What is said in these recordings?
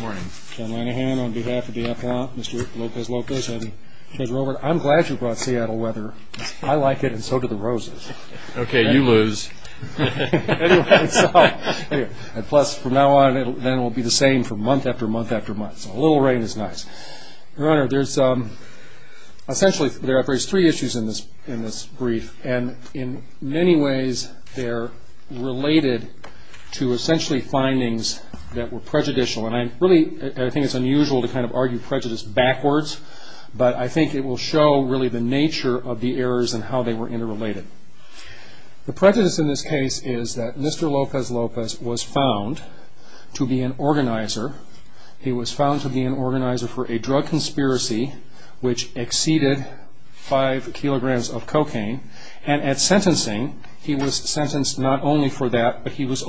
I'm glad you brought Seattle weather. I like it, and so do the roses. Okay, you lose. Plus, from now on, it will be the same for month after month after month. A little rain is nice. Your Honor, there are essentially three issues in this brief, and in many ways they are related to essentially findings that were prejudicial, and I really think it's unusual to kind of argue prejudice backwards, but I think it will show really the nature of the errors and how they were interrelated. The prejudice in this case is that Mr. Lopez-Lopez was found to be an organizer. He was found to be an organizer for a drug conspiracy which exceeded five kilograms of cocaine, and at that time, he was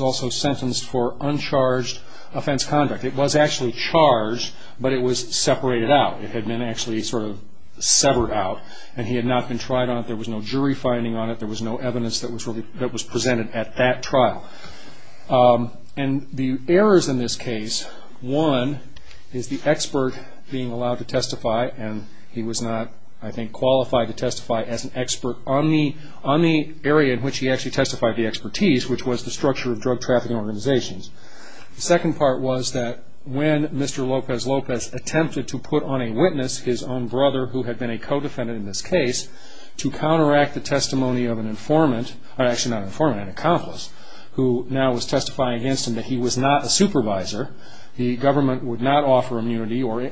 also sentenced for uncharged offense conduct. It was actually charged, but it was separated out. It had been actually sort of severed out, and he had not been tried on it. There was no jury finding on it. There was no evidence that was presented at that trial, and the errors in this case, one, is the expert being allowed to testify, and he was not, I think, qualified to testify as an expert on the area in which he actually had expertise, which was the structure of drug trafficking organizations. The second part was that when Mr. Lopez-Lopez attempted to put on a witness his own brother who had been a co-defendant in this case to counteract the testimony of an informant, or actually not an informant, an accomplice, who now was testifying against him that he was not a supervisor, the government would not offer immunity or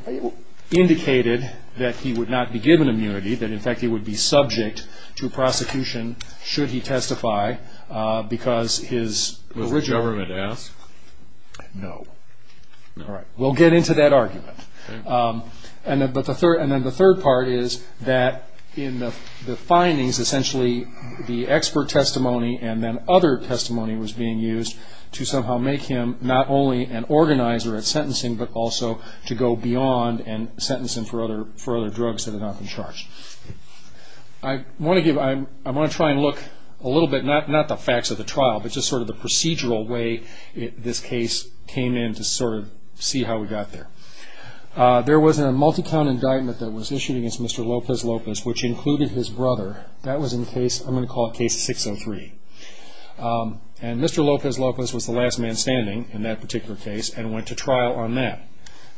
indicated that he would not be given immunity, that, in fact, he would be subject to prosecution should he testify, because his original... Was the government asked? No. No. All right. We'll get into that argument. And then the third part is that in the findings, essentially, the expert testimony and then other testimony was being used to somehow make him not only an organizer at sentencing, but also to go beyond and sentence him for other drugs that had not been charged. I want to try and look a little bit, not the facts of the trial, but just sort of the procedural way this case came in to sort of see how we got there. There was a multi-count indictment that was issued against Mr. Lopez-Lopez, which included his brother. That was in case, I'm going to call it case 603. And Mr. Lopez-Lopez was the last man standing in that particular case and went to trial on that.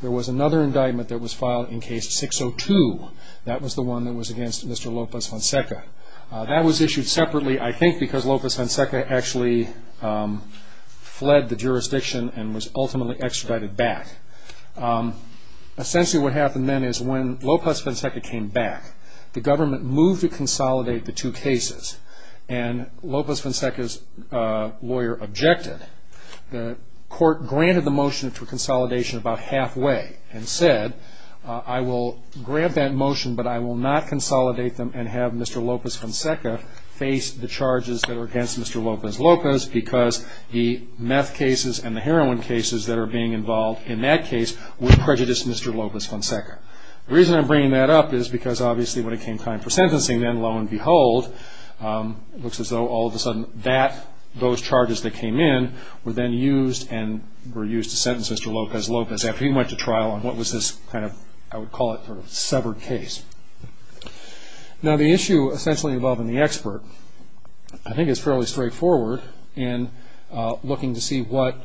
There was another indictment that was filed in case 602. That was the one that was against Mr. Lopez-Fonseca. That was issued separately, I think, because Lopez-Fonseca actually fled the jurisdiction and was ultimately extradited back. Essentially, what happened then is when Lopez-Fonseca came back, the government moved to consolidate the two cases. And Lopez-Fonseca's lawyer objected. The court granted the motion for half-way and said, I will grant that motion, but I will not consolidate them and have Mr. Lopez-Fonseca face the charges that are against Mr. Lopez-Lopez because the meth cases and the heroin cases that are being involved in that case would prejudice Mr. Lopez-Fonseca. The reason I'm bringing that up is because obviously when it came time for sentencing then, lo and behold, it looks as though all of a sudden those charges that came in were then used and were used to sentence Mr. Lopez-Lopez after he went to trial on what was this severed case. Now, the issue essentially involving the expert, I think, is fairly straightforward in looking to see what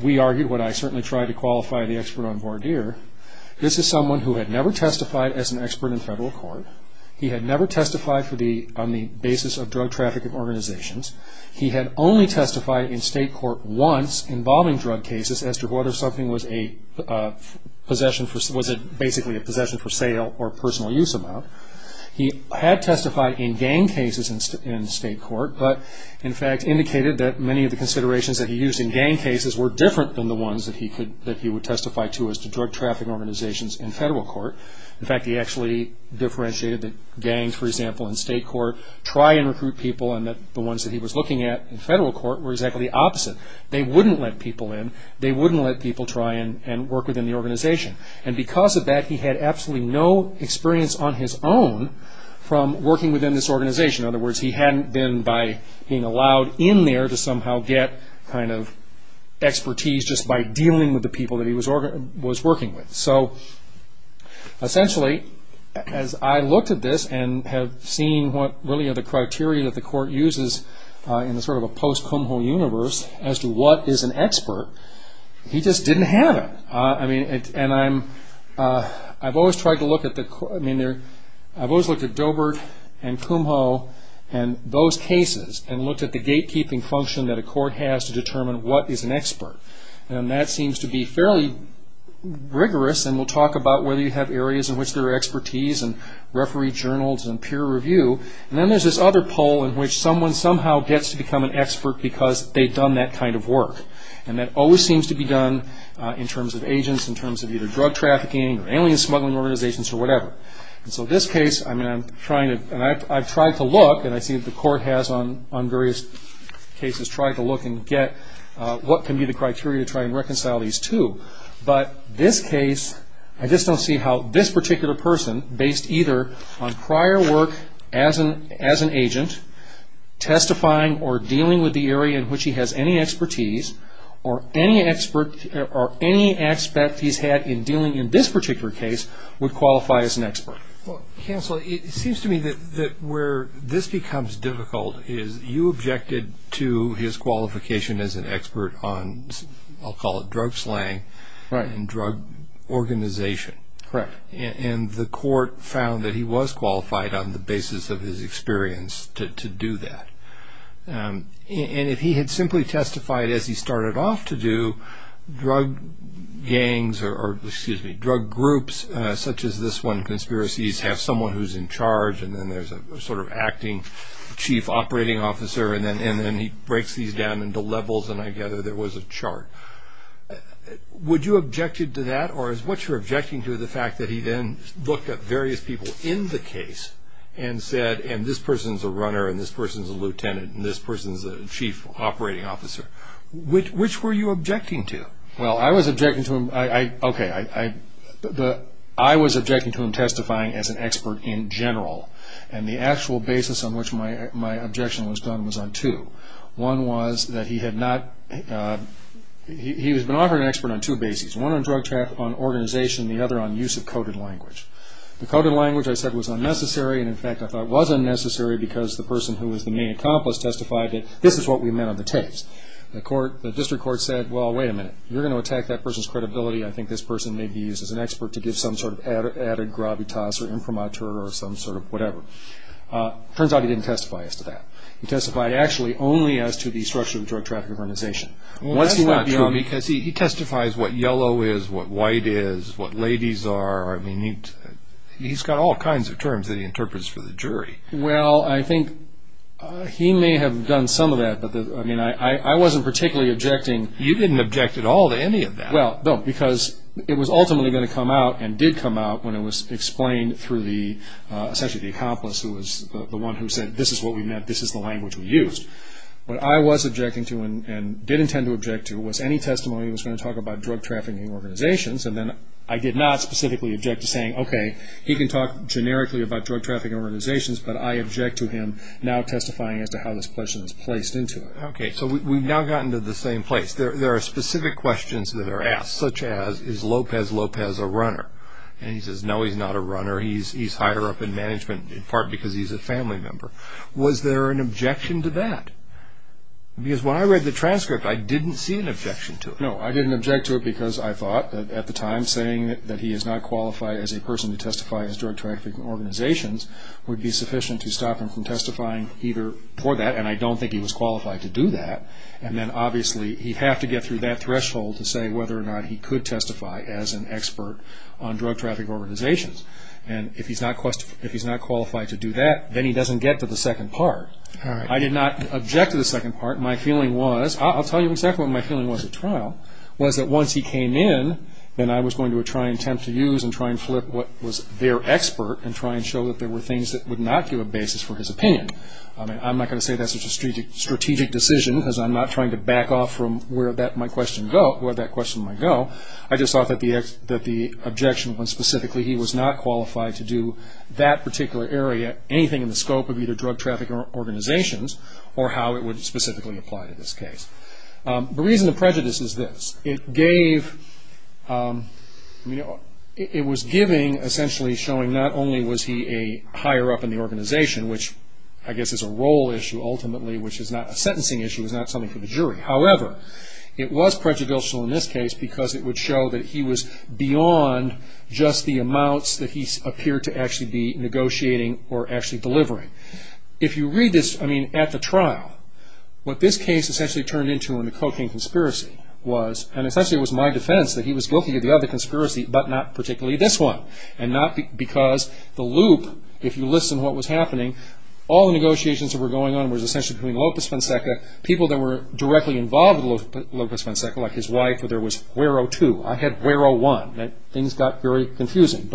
we argued, what I certainly tried to qualify the expert on here. This is someone who had never testified as an expert in federal court. He had never testified on the basis of drug trafficking organizations. He had only testified in state court once involving drug cases as to whether something was basically a possession for sale or personal use amount. He had testified in gang cases in state court, but in fact indicated that many of the considerations that he used in gang cases were different than the ones that he would testify to as to drug trafficking organizations in federal court. In fact, he actually differentiated that gangs, for example, in state court try and recruit people and that the ones that he was looking at in federal court were exactly the opposite. They wouldn't let people in. They wouldn't let people try and work within the organization. Because of that, he had absolutely no experience on his own from working within this organization. In other words, he hadn't been by being allowed in there to somehow get expertise just by this. He just didn't have it. I've always looked at Dobert and Kumho and those cases and looked at the gatekeeping function that a court has to determine what is an expert. That seems to be fairly rigorous. We'll talk about whether you have areas in which there is expertise and referee journals and peer review. Then there's this other pole in which someone somehow gets to become an expert because they've done that kind of work. That always seems to be done in terms of agents, in terms of either drug trafficking or alien smuggling organizations or whatever. This case, I've tried to look and I see that the court has on various cases tried to look and get what can be the criteria to try and reconcile these two. But this case, I just based either on prior work as an agent, testifying or dealing with the area in which he has any expertise or any aspect he's had in dealing in this particular case would qualify as an expert. Counsel, it seems to me that where this becomes difficult is you objected to his qualification as an expert on, I'll call it drug slang and drug organization. Correct. The court found that he was qualified on the basis of his experience to do that. If he had simply testified as he started off to do, drug gangs or excuse me, drug groups such as this one, conspiracies, have someone who's in charge and then there's a sort of acting chief operating officer and then he breaks these down into levels and I gather there was a chart. Would you objected to that or is what you're objecting to the fact that he then looked at various people in the case and said, and this person's a runner and this person's a lieutenant and this person's a chief operating officer. Which were you objecting to? Well I was objecting to him, okay, I was objecting to him testifying as an expert in general and the actual basis on which my objection was done was on two. One was that he had not, he had been offered an expert on two bases. One on drug trafficking, on organization and the other on use of coded language. The coded language I said was unnecessary and in fact I thought was unnecessary because the person who was the main accomplice testified that this is what we meant on the tapes. The court, the district court said, well wait a minute, you're going to attack that person's credibility, I think this person may be used as an expert to give some sort of added gravitas or imprimatur or some sort of whatever. Turns out he didn't testify as to that. He testified actually only as to the structure of the drug trafficking organization. Well that's not true because he testifies what yellow is, what white is, what ladies are, I mean he's got all kinds of terms that he interprets for the jury. Well I think he may have done some of that but I mean I wasn't particularly objecting. You didn't object at all to any of that. Well, no, because it was ultimately going to come out and did come out when it was explained through the, essentially the accomplice who was the one who said this is what we meant, this is the language we used. What I was objecting to and did intend to object to was any testimony that was going to talk about drug trafficking organizations and then I did not specifically object to saying okay, he can talk generically about drug trafficking organizations but I object to him now testifying as to how this question is placed into it. Okay, so we've now gotten to the same place. There are specific questions that are asked such as is Lopez Lopez a runner? And he says no he's not a runner, he's higher up in management in part because he's a family member. Was there an objection to that? Because when I read the transcript I didn't see an objection to it. No, I didn't object to it because I thought that at the time saying that he is not qualified as a person to testify as drug trafficking organizations would be sufficient to stop him from testifying either for that and I don't think he was qualified to do that and then obviously he'd have to get through that threshold to say whether or not he could testify as an expert on drug trafficking organizations and if he's not qualified to do that then he doesn't get to the second part. I did not object to the second part. My feeling was, I'll tell you exactly what my feeling was at trial, was that once he came in then I was going to try and attempt to use and try and flip what was their expert and try and show that there were things that would not give a basis for his opinion. I'm not going to say that's a strategic decision because I'm not trying to back off from where that question might go. I just thought that the objection when specifically he was not qualified to do that particular area, anything in the scope of either drug trafficking organizations or how it would specifically apply to this The reason the prejudice is this. It gave, it was giving essentially showing not only was he a higher up in the organization, which I guess is a role issue ultimately, which is not a sentencing issue, is not something for the jury. However, it was prejudicial in this case because it would show that he was beyond just the amounts that he appeared to actually be negotiating or actually delivering. If you read this, I mean at the trial, what this case essentially turned into in the cocaine conspiracy was, and essentially it was my defense that he was guilty of the other conspiracy but not particularly this one. And not because the loop, if you listen to what was happening, all the negotiations that were going on were essentially between Lopez Fonseca, people that were directly involved with Lopez Fonseca, like his wife, where there was Guero 2. I had Guero 1. Things got very confusing.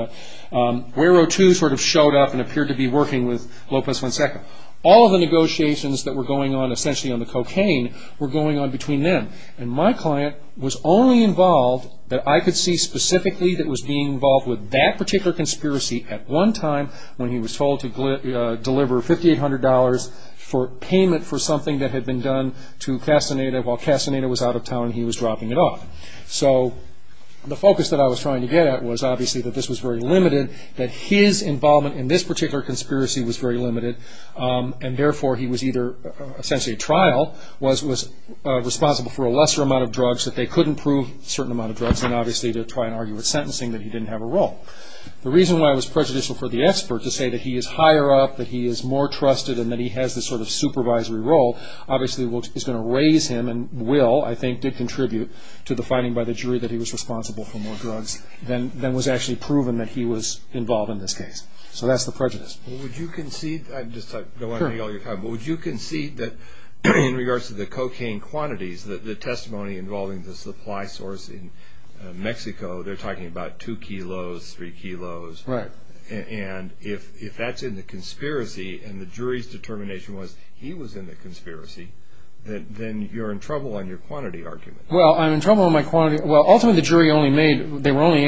Guero 2 sort of showed up and appeared to be working with Lopez Fonseca. All the negotiations that were going on essentially on the cocaine were going on between them. And my client was only involved that I could see specifically that was being involved with that particular conspiracy at one time when he was told to deliver $5,800 for payment for something that had been done to Castaneda while Castaneda was out of town and he was dropping it off. So the focus that I was trying to get at was obviously that this was very limited, that his involvement in this particular conspiracy was very limited, and therefore he was either essentially a trial, was responsible for a lesser amount of drugs, that they couldn't prove certain amount of drugs, and obviously to try and argue with sentencing that he didn't have a role. The reason why it was prejudicial for the expert to say that he is higher up, that he is more trusted, and that he has this sort of supervisory role, obviously is going to raise him and will, I think, did contribute to the finding by the jury that he was responsible for more drugs than was actually proven that he was involved in this case. So that's the prejudice. Well, would you concede, I just don't want to take all your time, but would you concede that in regards to the cocaine quantities, the testimony involving the supply source in Mexico, they're talking about two kilos, three kilos, and if that's in the conspiracy and the jury's determination was he was in the conspiracy, then you're in trouble on your quantity argument. Well, I'm in trouble on my quantity, well ultimately the jury only made, they were only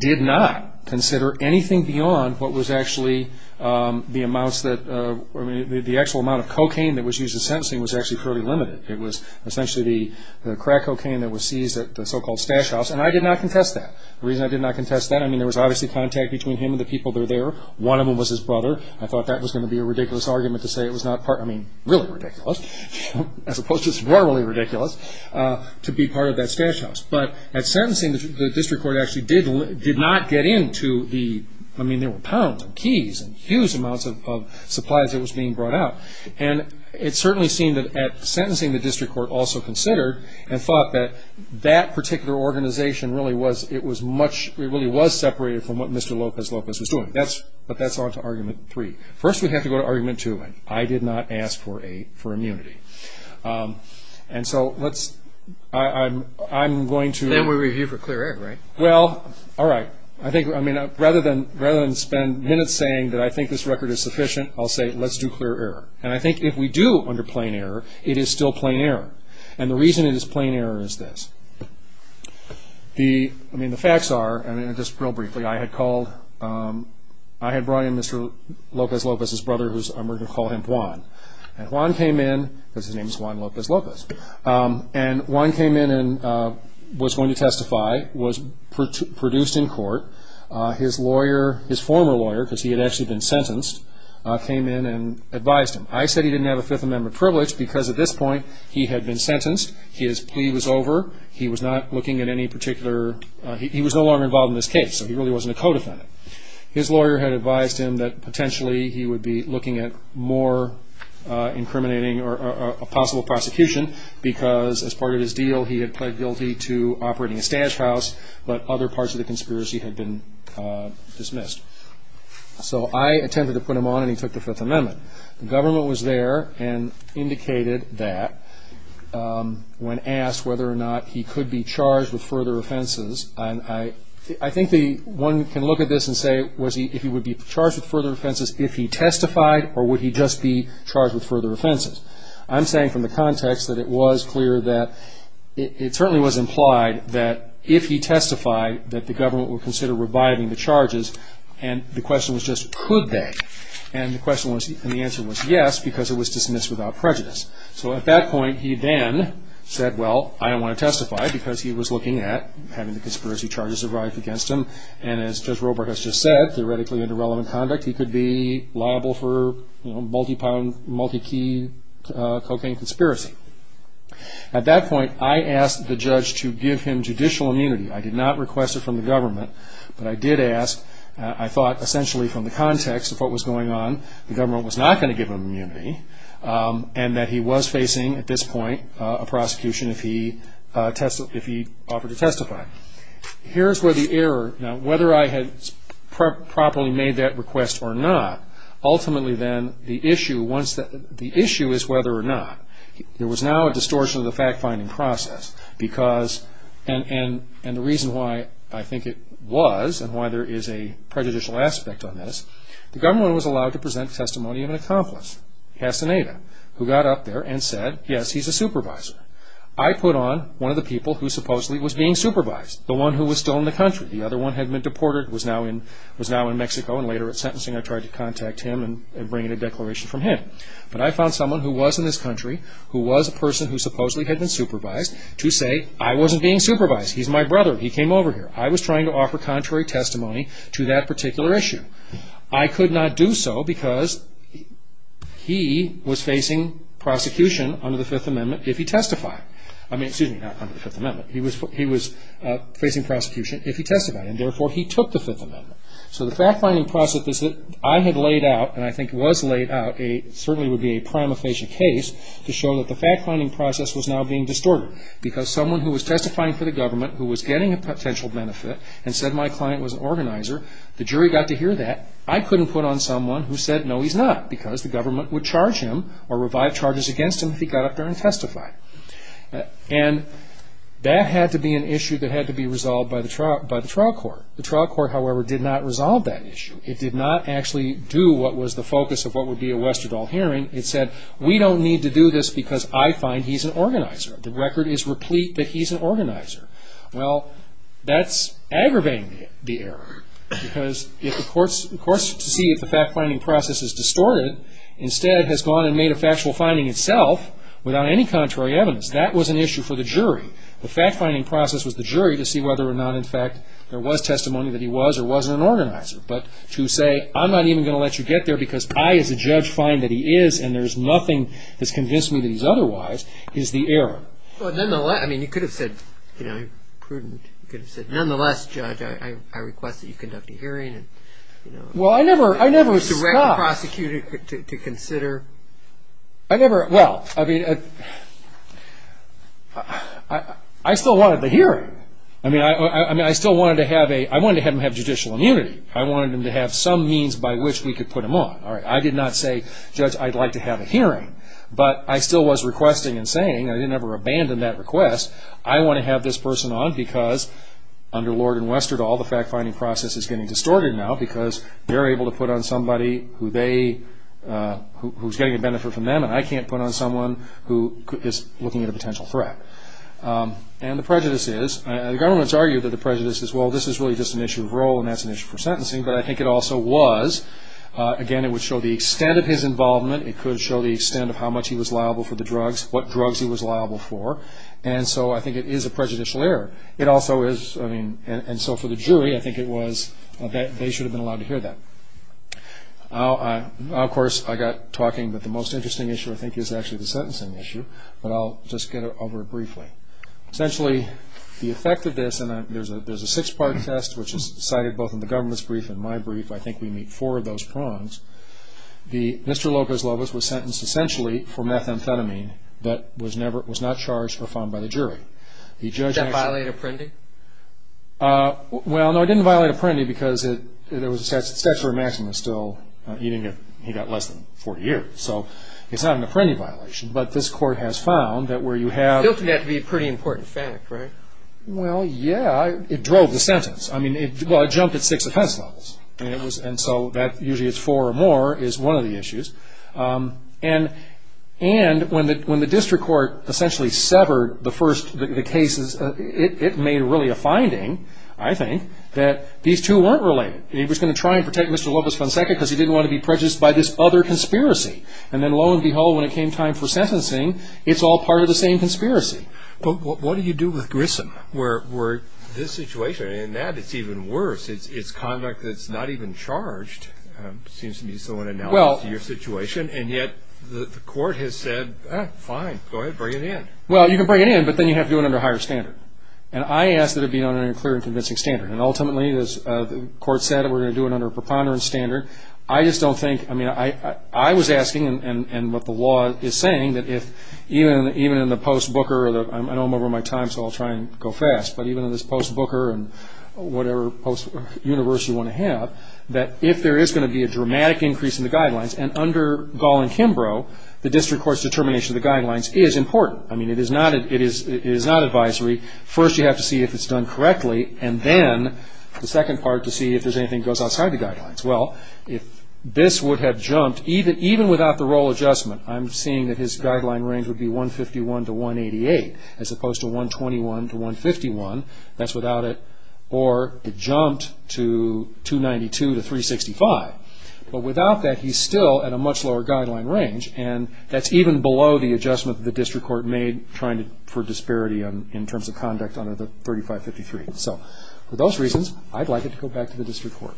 did not consider anything beyond what was actually the amounts, the actual amount of cocaine that was used in sentencing was actually fairly limited. It was essentially the crack cocaine that was seized at the so-called stash house, and I did not contest that. The reason I did not contest that, I mean, there was obviously contact between him and the people that were there. One of them was his brother. I thought that was going to be a ridiculous argument to say it was not, I mean, really ridiculous, as opposed to morally ridiculous, to be part of that stash house, but at sentencing, the district court actually did not get into the, I mean, there were pounds and keys and huge amounts of supplies that was being brought out, and it certainly seemed that at sentencing, the district court also considered and thought that that particular organization really was, it was much, it really was separated from what Mr. Lopez Lopez was doing, but that's on to argument three. First, we have to go to argument two. I did not ask for a, for immunity, and so let's, I'm going to... Then we review for clear error, right? Well, all right. I think, I mean, rather than spend minutes saying that I think this record is sufficient, I'll say let's do clear error, and I think if we do under plain error, it is still plain error, and the reason it is plain error is this. The, I mean, the facts are, and just real briefly, I had called, I had brought in Mr. Lopez Lopez's brother whose, and we're going to call him Juan, and Juan came in, because his name is Juan Lopez Lopez, and Juan came in and was going to testify, was produced in court. His lawyer, his former lawyer, because he had actually been sentenced, came in and advised him. I said he didn't have a Fifth Amendment privilege because at this point, he had been sentenced, his plea was over, he was not looking at any particular, he was no longer involved in this case, so he really wasn't a co-defendant. His lawyer had advised him that potentially he would be looking at more incriminating, or a possible prosecution, because as part of his deal, he had pled guilty to operating a stash house, but other parts of the conspiracy had been dismissed. So I attempted to put him on, and he took the Fifth Amendment. The government was there and indicated that when asked whether or not he could be charged with further offenses, and I think the, one can look at this and say, was he, if he would be charged with further offenses if he testified, or would he just be charged with further offenses? I'm saying from the context that it was clear that, it certainly was implied that if he testified that the government would consider reviving the charges, and the question was just could they? And the answer was yes, because it was dismissed without prejudice. So at that point he then said, well, I don't want to testify, because he was looking at having the conspiracy charges arrived against him, and as Judge Robart has just said, theoretically into relevant conduct he could be liable for multi-key cocaine conspiracy. At that point I asked the judge to give him judicial immunity. I did not request it from the government, but I did ask, I thought essentially from the context of what was going on, the government was not going to give him immunity, and that he was facing, at this point, a prosecution if he offered to testify. Here's where the error, now whether I had properly made that request or not, ultimately then the issue once, the issue is whether or not. There was now a distortion of the fact finding process because, and the reason why I think it was, and why there is a prejudicial aspect on this, the government was allowed to present testimony of an accomplice, Casaneda, who got up there and said, yes, he's a supervisor. I put on one of the people who supposedly was being supervised, the one who was still in the country. The other one had been deported, was now in Mexico, and later at sentencing I tried to contact him and bring in a declaration from him. But I found someone who was in this country, who was a person who supposedly had been supervised, to say, I wasn't being supervised, he's my brother, he came over here. I was trying to offer contrary testimony to that particular issue. I could not do so because he was facing prosecution under the Fifth Amendment if he testified. I mean, excuse me, not under the Fifth Amendment. He was facing prosecution if he testified, and therefore he took the Fifth Amendment. So the fact finding process that I had laid out, and I think was laid out, certainly would be a prima facie case to show that the fact finding process was now being distorted. Because someone who was testifying for the government, who was getting a potential benefit, and said my client was an organizer, the jury got to hear that. I couldn't put on someone who said, no he's not, because the government would charge him or revive charges against him if he got up there and testified. And that had to be an issue that had to be resolved by the trial court. The trial court, however, did not resolve that issue. It did not actually do what was the focus of what would be a Westerdahl hearing. It said, we don't need to do this because I find he's an organizer. The record is replete that he's an organizer. Well, that's aggravating the error. Because if the courts, the courts to see if the fact finding process is distorted, instead has gone and made a factual finding itself without any contrary evidence. That was an issue for the jury. The fact finding process was the jury to see whether or not, in fact, there was testimony that he was or wasn't an organizer. But to say, I'm not even going to let you get there because I, as a judge, find that he is and there's nothing that's convinced me that he's otherwise, is the error. Well, nonetheless, I mean, you could have said, you know, prudent, you could have said, nonetheless, Judge, I request that you conduct a hearing and, you know, Well, I never, I never, direct the prosecutor to consider I never, well, I mean, I still wanted the hearing. I mean, I still wanted to have a, I wanted to have him have judicial immunity. I wanted him to have some means by which we could put him on. I did not say, Judge, I'd like to have a hearing. But I still was requesting and saying, I didn't ever abandon that request. I want to have this person on because, under Lord and Westerdahl, the fact finding process is getting distorted now because they're able to put on somebody who they, who's getting a benefit from them and I can't put on someone who is looking at a potential threat. And the prejudice is, the government's argued that the prejudice is, well, this is really just an issue of role and that's an issue for sentencing. But I think it also was, again, it would show the extent of his involvement. It could show the extent of how much he was liable for the drugs, what drugs he was liable for. And so I think it is a prejudicial error. It also is, I mean, and so for the jury, I think it was, they should have been allowed to hear that. Now, of course, I got talking, but the most interesting issue, I think, is actually the sentencing issue. But I'll just get over it briefly. Essentially, the effect of this, and there's a six-part test, which is cited both in the government's brief and my brief. I think we meet four of those prongs. The, Mr. Lopez-Lobos was sentenced essentially for methamphetamine that was never, was not charged or found by the jury. The judge actually- Did that violate a prendi? Well, no, it didn't violate a prendi because it, there was a statute of maxima still, even if he got less than 40 years. So it's not an apprendi violation, but this court has found that where you have- Filthy had to be a pretty important fact, right? Well, yeah. It drove the sentence. I mean, it, well, it jumped at six offense levels. I mean, it was, and so that usually it's four or more is one of the issues. And, and when the, when the district court essentially severed the first, the cases, it, it made really a finding, I think, that these two weren't related. It was going to try and protect Mr. Lopez-Fonseca because he didn't want to be prejudiced by this other conspiracy. And then, lo and behold, when it came time for sentencing, it's all part of the same conspiracy. But what do you do with Grissom? Where, where this situation and that, it's even worse. It's conduct that's not even charged. It seems to me so in analogy to your situation. And yet the court has said, ah, fine, go ahead, bring it in. Well, you can bring it in, but then you have to do it under a higher standard. And I ask that it be done under a clear and convincing standard. And ultimately, as the court said, we're going to do it under a preponderance standard. I just don't think, I mean, I, I know that, I know I'm over my time, so I'll try and go fast. But even in this post-Booker and whatever post-university you want to have, that if there is going to be a dramatic increase in the guidelines, and under Gall and Kimbrough, the district court's determination of the guidelines is important. I mean, it is not, it is, it is not advisory. First, you have to see if it's done correctly. And then, the second part, to see if there's anything that goes outside the guidelines. Well, if this would have jumped, even, even without the 188, as opposed to 121 to 151, that's without it. Or, it jumped to 292 to 365. But without that, he's still at a much lower guideline range. And that's even below the adjustment the district court made, trying to, for disparity on, in terms of conduct under the 3553. So, for those reasons, I'd like it to go back to the district court.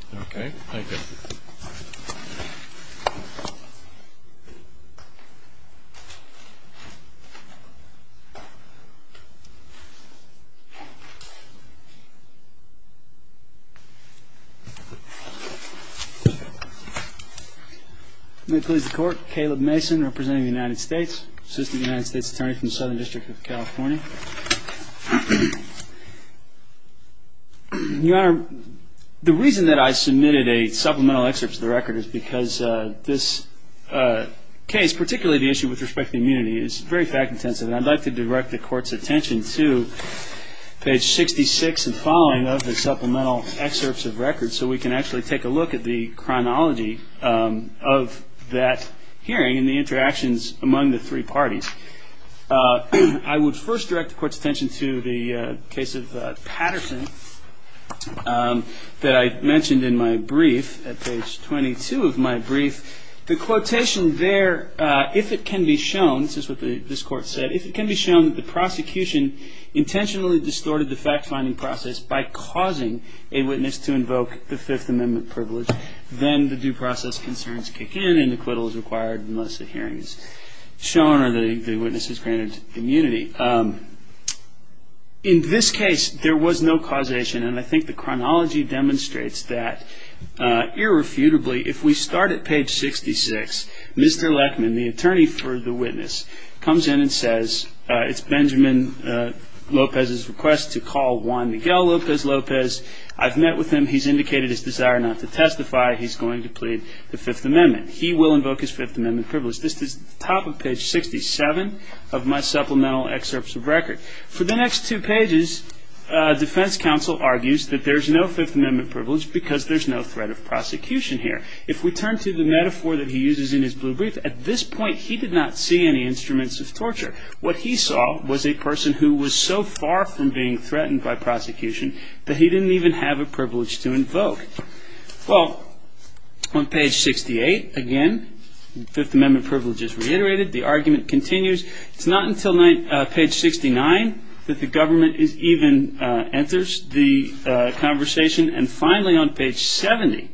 May it please the Court. Caleb Mason, representing the United States. Assistant United States Attorney from the Southern District of California. Your Honor, the reason that I submitted a supplemental excerpt to the record is because this case, particularly the issue with respect to immunity, is very fact-intensive. And I'd like to direct the Court's attention to page 66 and following of the supplemental excerpts of record, so we can actually take a look at the chronology of that hearing and the interactions among the three parties. I would first direct the Court's attention to the case of Patterson that I mentioned in my brief, at page 22 of my brief. The quotation there, if it can be shown, this is what this Court said, if it can be shown that the prosecution intentionally distorted the fact-finding process by causing a witness to invoke the Fifth Amendment privilege, then the due process concerns kick in and acquittal is required, unless the hearing is shown or the witness is granted immunity. In this case, there was no causation. And I think the chronology demonstrates that irrefutably, if we start at page 66, Mr. Leckman, the attorney for the witness, comes in and says, it's Benjamin Lopez's request to call Juan Miguel Lopez. I've met with him. He's indicated his desire not to testify. He's going to plead the Fifth Amendment. He will invoke his Fifth Amendment privilege. This is the top of page 67 of my supplemental excerpts of record. For the next two pages, defense counsel argues that there's no Fifth Amendment privilege because there's no threat of prosecution here. If we turn to the metaphor that he uses in his blue brief, at this point, he did not see any instruments of torture. What he saw was a person who was so far from being threatened by prosecution that he didn't even have a privilege to invoke. Well, on page 68, again, the Fifth Amendment privilege is reiterated. The argument continues. It's not until page 69 that the government even enters the conversation. Finally, on page 70,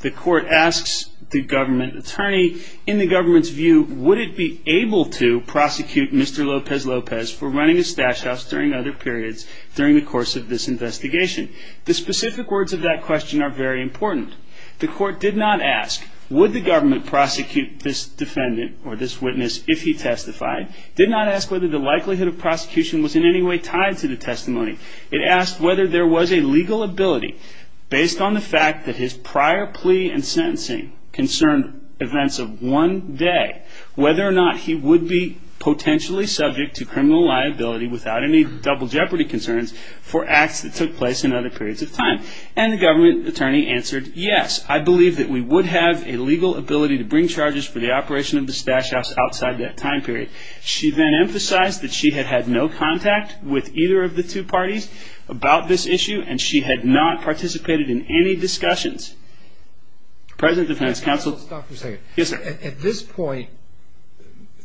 the court asks the government attorney, in the government's view, would it be able to prosecute Mr. Lopez Lopez for running a stash house during other periods during the course of this investigation? The specific words of that question are very important. The court did not ask, would the government prosecute this defendant or this witness if he testified, did not ask whether the likelihood of prosecution was in any way tied to the testimony. It asked whether there was a legal ability, based on the fact that his prior plea and sentencing concerned events of one day, whether or not he would be potentially subject to criminal liability without any double jeopardy concerns for acts that took place in other periods of time. The government attorney answered, yes, I believe that we would have a legal ability to bring charges for the operation of the stash house outside that time period. She then emphasized that she had had no contact with either of the two parties about this issue and she had not participated in any discussions. President Defendant's Counsel. Let's stop for a second. At this point,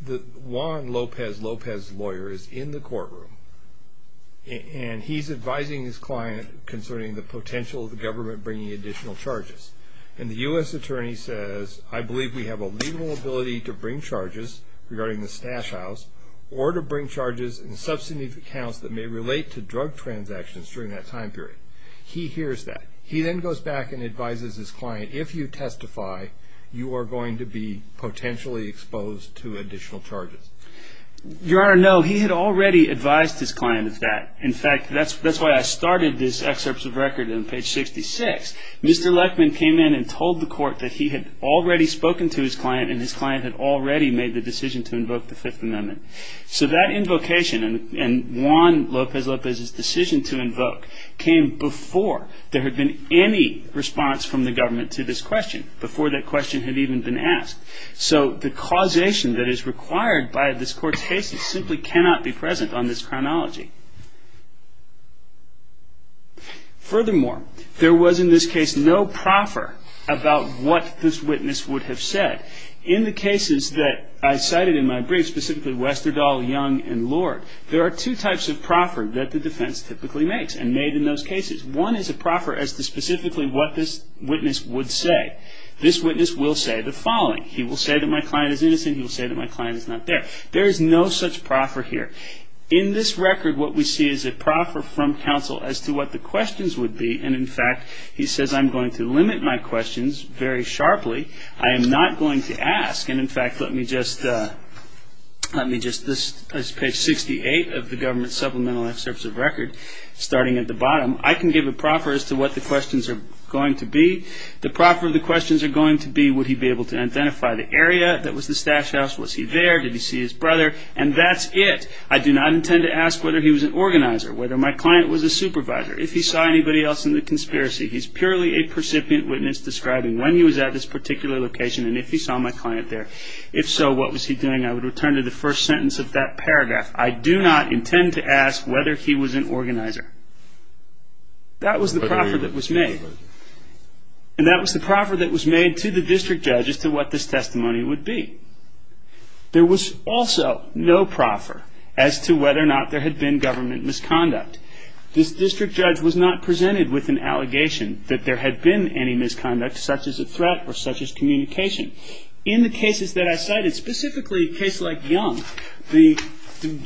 the Juan Lopez Lopez lawyer is in the courtroom and he's advising his client concerning the potential of the government bringing additional charges. And the U.S. attorney says, I believe we have a legal ability to bring charges regarding the stash house or to bring charges in substantive accounts that may relate to drug transactions during that time period. He hears that. He then goes back and advises his client, if you testify, you are going to be potentially exposed to additional charges. Your Honor, no, he had already advised his client of that. In fact, that's why I started this excerpt of record on page 66. Mr. Lechman came in and told the court that he had already spoken to his client and his client had already made the decision to invoke the Fifth Amendment. So that invocation and Juan Lopez Lopez's decision to invoke came before there had been any response from the government to this question, before that question had even been asked. So the causation that is required by this court's case simply cannot be present on this Furthermore, there was in this case no proffer about what this witness would have said. In the cases that I cited in my brief, specifically Westerdahl, Young, and Lord, there are two types of proffer that the defense typically makes and made in those cases. One is a proffer as to specifically what this witness would say. This witness will say the following. He will say that my client is innocent. He will say that my client is not there. There is no such proffer here. In this record, what we see is a proffer from counsel as to what the questions would be. And in fact, he says I'm going to limit my questions very sharply. I am not going to ask. And in fact, let me just, let me just, this is page 68 of the government supplemental excerpts of record, starting at the bottom. I can give a proffer as to what the questions are going to be. The proffer of the questions are going to be would he be able to identify the area that was the stash house? Was he there? Did he see his brother? And that's it. I do not intend to ask whether he was an organizer, whether my client was a supervisor, if he saw anybody else in the conspiracy. He's purely a percipient witness describing when he was at this particular location and if he saw my client there. If so, what was he doing? I would return to the first sentence of that paragraph. I do not intend to ask whether he was an organizer. That was the proffer that was made. And that was the proffer that was made to the district judge as to what this testimony would be. There was also no proffer as to whether or not there had been government misconduct. This district judge was not presented with an allegation that there had been any misconduct such as a threat or such as communication. In the cases that I cited, specifically a case like Young, the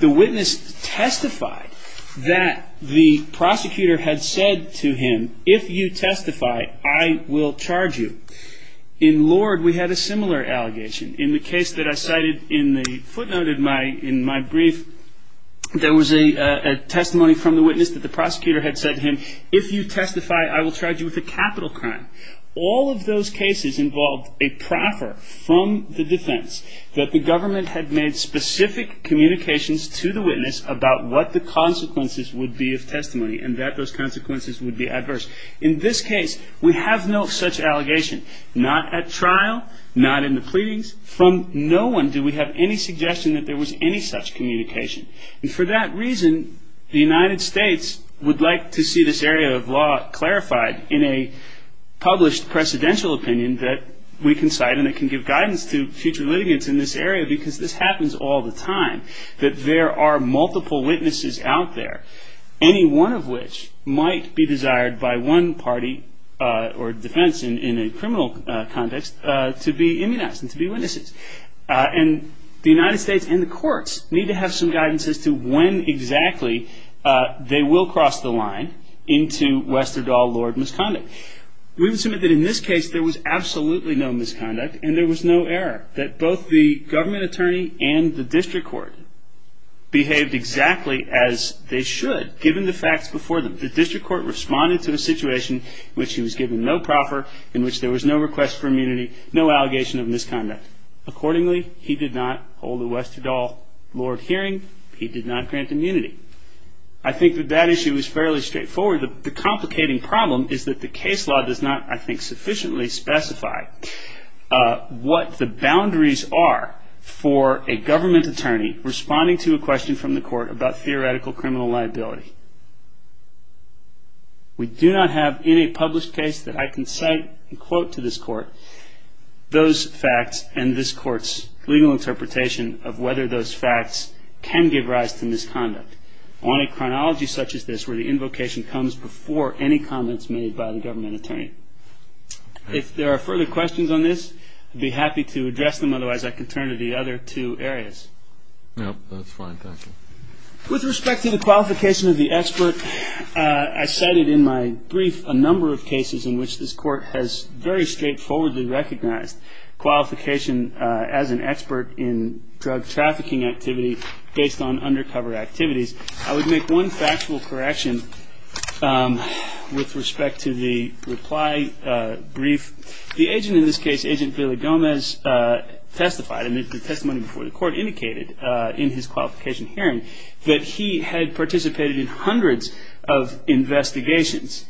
witness testified that the prosecutor had said to him, if you testify, I will charge you. In Lord, we had a similar allegation. In the case that I cited in the footnote in my brief, there was a testimony from the witness that the prosecutor had said to him, if you testify, I will charge you with a capital crime. All of those cases involved a proffer from the defense that the government had made specific communications to the witness about what the consequences would be of testimony and that those consequences would be adverse. In this case, we have no such allegation, not at trial, not in the pleadings. From no one do we have any suggestion that there was any such communication. And for that reason, the United States would like to see this area of law clarified in a published precedential opinion that we can cite and that can give guidance to future litigants in this area because this happens all the time, that there are multiple witnesses out there, any one of which might be desired by one party or defense in a criminal context to be immunized and to be witnesses. And the United States and the courts need to have some guidance as to when exactly they will cross the line into Westerdahl-Lord misconduct. We would submit that in this case there was absolutely no misconduct and there was no error, that both the government attorney and the district court behaved exactly as they should given the facts before them. The district court responded to a situation in which he was given no proffer, in which there was no request for immunity, no allegation of misconduct. Accordingly, he did not hold a Westerdahl-Lord hearing. He did not grant immunity. I think that that issue is fairly straightforward. The complicating problem is that the case law does not, I think, sufficiently specify what the boundaries are for a government attorney responding to a question from the court about theoretical criminal liability. We do not have in a published case that I can cite and quote to this court those facts and this court's legal interpretation of whether those facts can give rise to misconduct on a chronology such as this where the invocation comes before any comments made by the government attorney. If there are further questions on this, I'd be happy to address them. Otherwise, I can turn to the other two areas. No, that's fine. Thank you. With respect to the qualification of the expert, I cited in my brief a number of cases in which this court has very straightforwardly recognized qualification as an expert in drug trafficking activity based on undercover activities. I would make one factual correction with respect to the reply brief. The agent in this case, Agent Billy Gomez, testified and the testimony before the court indicated in his qualification hearing that he had participated in hundreds of investigations.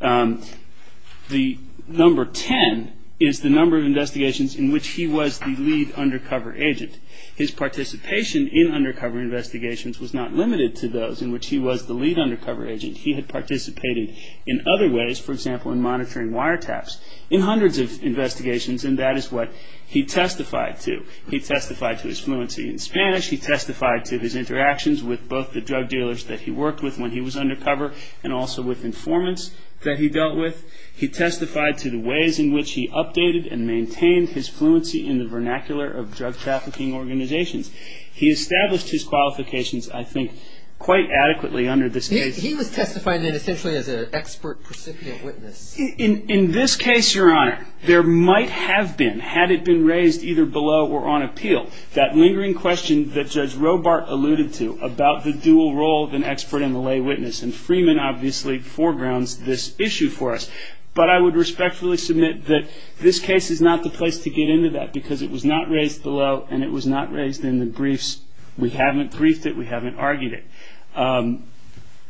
The number 10 is the number of investigations in which he was the lead undercover agent. His participation in undercover investigations was not limited to those in which he was the lead undercover agent. He had participated in other ways, for example, in monitoring wiretaps, in hundreds of investigations and that is what he testified to. He testified to his fluency in Spanish. He testified to his interactions with both the drug dealers that he worked with when he was undercover and also with informants that he dealt with. He testified to the ways in which he updated and maintained his fluency in the vernacular of drug trafficking organizations. He established his qualifications, I think, quite adequately under this case. He was testifying essentially as an expert, precipient witness. In this case, Your Honor, there might have been, had it been raised either below or on appeal, that lingering question that Judge Robart alluded to about the dual role of an expert and the lay witness and Freeman obviously foregrounds this issue for us. But I would respectfully submit that this case is not the place to get into that because it was not raised below and it was not raised in the briefs. We haven't briefed it. We haven't argued it.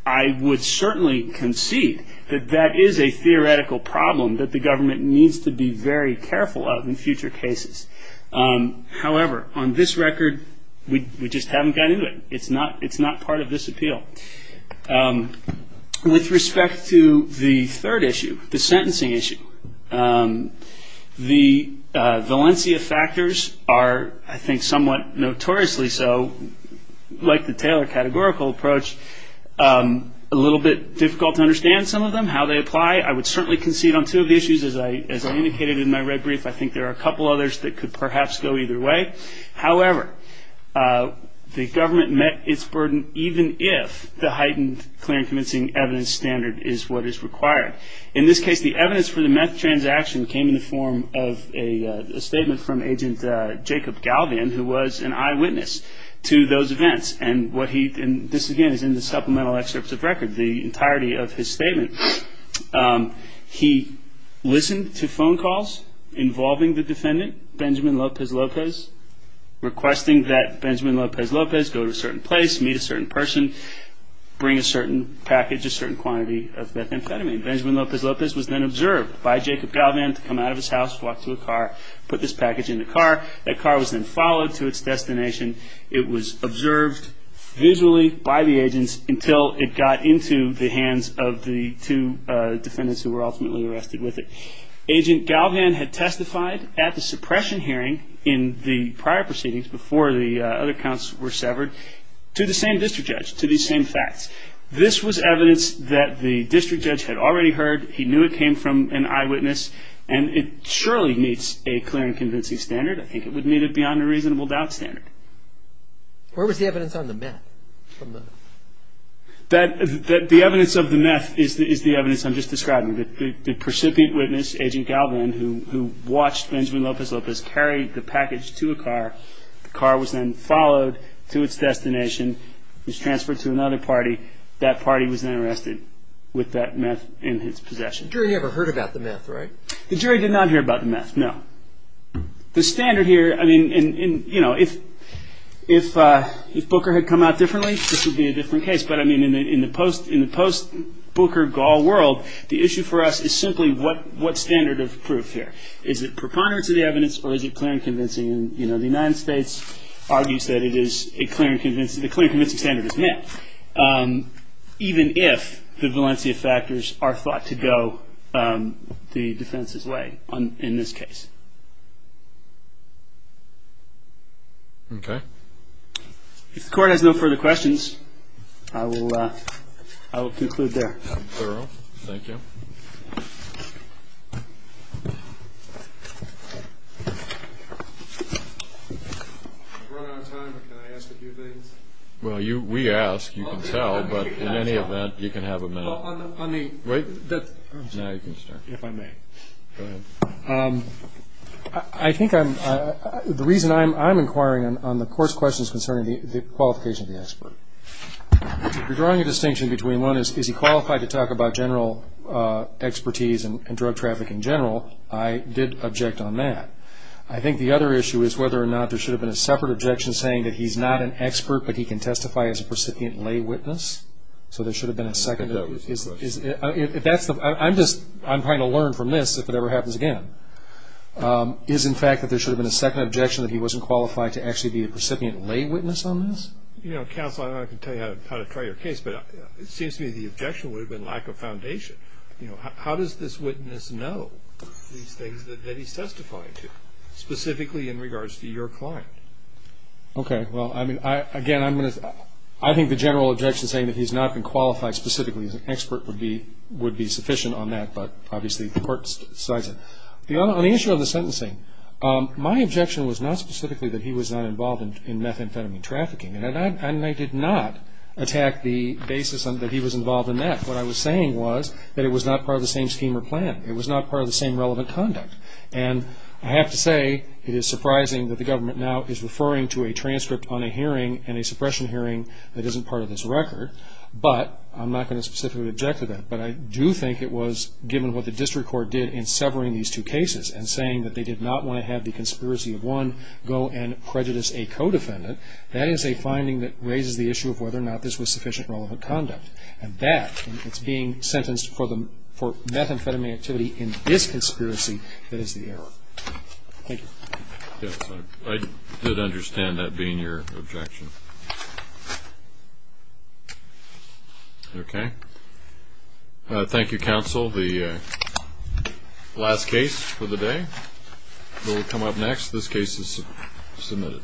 I would certainly concede that that is a theoretical problem that the government needs to be very careful of in future cases. However, on this record, we just haven't gotten into it. It's not part of this appeal. With respect to the third issue, the sentencing issue, the Valencia factors are, I think, somewhat notoriously so, like the Taylor categorical approach, a little bit difficult to understand some of them, how they apply. I would certainly concede on two of the issues. As I indicated in my red brief, I think there are a couple others that could perhaps go either way. However, the government met its burden even if the heightened clear and convincing evidence standard is what is required. In this case, the evidence for the meth transaction came in the form of a statement from Agent Jacob Galvian, who was an eyewitness to those events. This again is in the supplemental excerpts of record, the entirety of his statement. He listened to phone calls involving the defendant, Benjamin Lopez Lopez, requesting that Benjamin Lopez Lopez go to a certain place, meet a certain person, bring a certain package, a certain quantity of methamphetamine. Benjamin Lopez Lopez was then observed by Jacob Galvian to come out of his house, walk to a car, put this package in the car. That car was then followed to its destination. It was observed visually by the agents until it got into the hands of the two defendants who were ultimately arrested with it. Agent Galvian had testified at the suppression hearing in the prior proceedings before the other counts were severed to the same district judge, to these same facts. This was evidence that the district judge had already heard. He knew it came from an eyewitness. It surely meets a clear and convincing standard. I think it would meet it beyond a reasonable doubt standard. Where was the evidence on the meth? The evidence of the meth is the evidence I'm just describing. The precipient witness, Agent Galvian, who watched Benjamin Lopez Lopez, carried the package to a car. The car was then followed to its destination. It was transferred to another party. That party was then arrested with that meth in its possession. The jury never heard about the meth, right? The jury did not hear about the meth, no. The standard here, I mean, if Booker had come out differently, this would be a different case. But in the post-Booker-Gaul world, the issue for us is simply what standard of proof here? Is it preponderance of the evidence or is it clear and convincing? The United States argues that the clear and convincing standard is meth, even if the Valencia factors are thought to go the defense's way in this case. Okay. If the Court has no further questions, I will conclude there. Thank you. I've run out of time, but can I ask a few things? Well, we ask. You can tell, but in any event, you can have a minute. Well, on the... Wait. I'm sorry. Now you can start. If I may. Go ahead. I think the reason I'm inquiring on the Court's question is concerning the qualification of the expert. If you're drawing a distinction between one is, is he qualified to talk about general expertise and drug trafficking in general, I did object on that. I think the other issue is whether or not there should have been a separate objection saying that he's not an expert, but he can testify as a percipient lay witness. So there should have been a second... I'm trying to learn from this if it ever happens again. Is, in fact, that there should have been a second objection that he wasn't qualified to actually be a percipient lay witness on this? You know, Counsel, I don't know if I can tell you how to try your case, but it seems to me the objection would have been lack of foundation. You know, how does this witness know these things that he's testifying to, specifically in regards to your client? Okay. Well, I mean, again, I'm going to... I think the general objection saying that he's not been qualified specifically as an expert would be, would be sufficient on that, but obviously the Court decides it. On the issue of the sentencing, my objection was not specifically that he was not involved in methamphetamine trafficking, and I did not attack the basis that he was involved in that. What I was saying was that it was not part of the same scheme or plan. It was not part of the same relevant conduct, and I have to say it is surprising that the government now is referring to a transcript on a hearing and a suppression hearing that isn't part of this record, but I'm not going to specifically object to that, but I do think it was, given what the District Court did in severing these two cases and saying that they did not want to have the conspiracy of one go and prejudice a co-defendant, that is a finding that raises the issue of whether or not this was sufficient relevant conduct, and that, and it's being sentenced for methamphetamine activity in this conspiracy that is the error. Thank you. Yes, I did understand that being your objection. Okay. Thank you, Counsel. The last case for the day. We'll come up next. This case is submitted.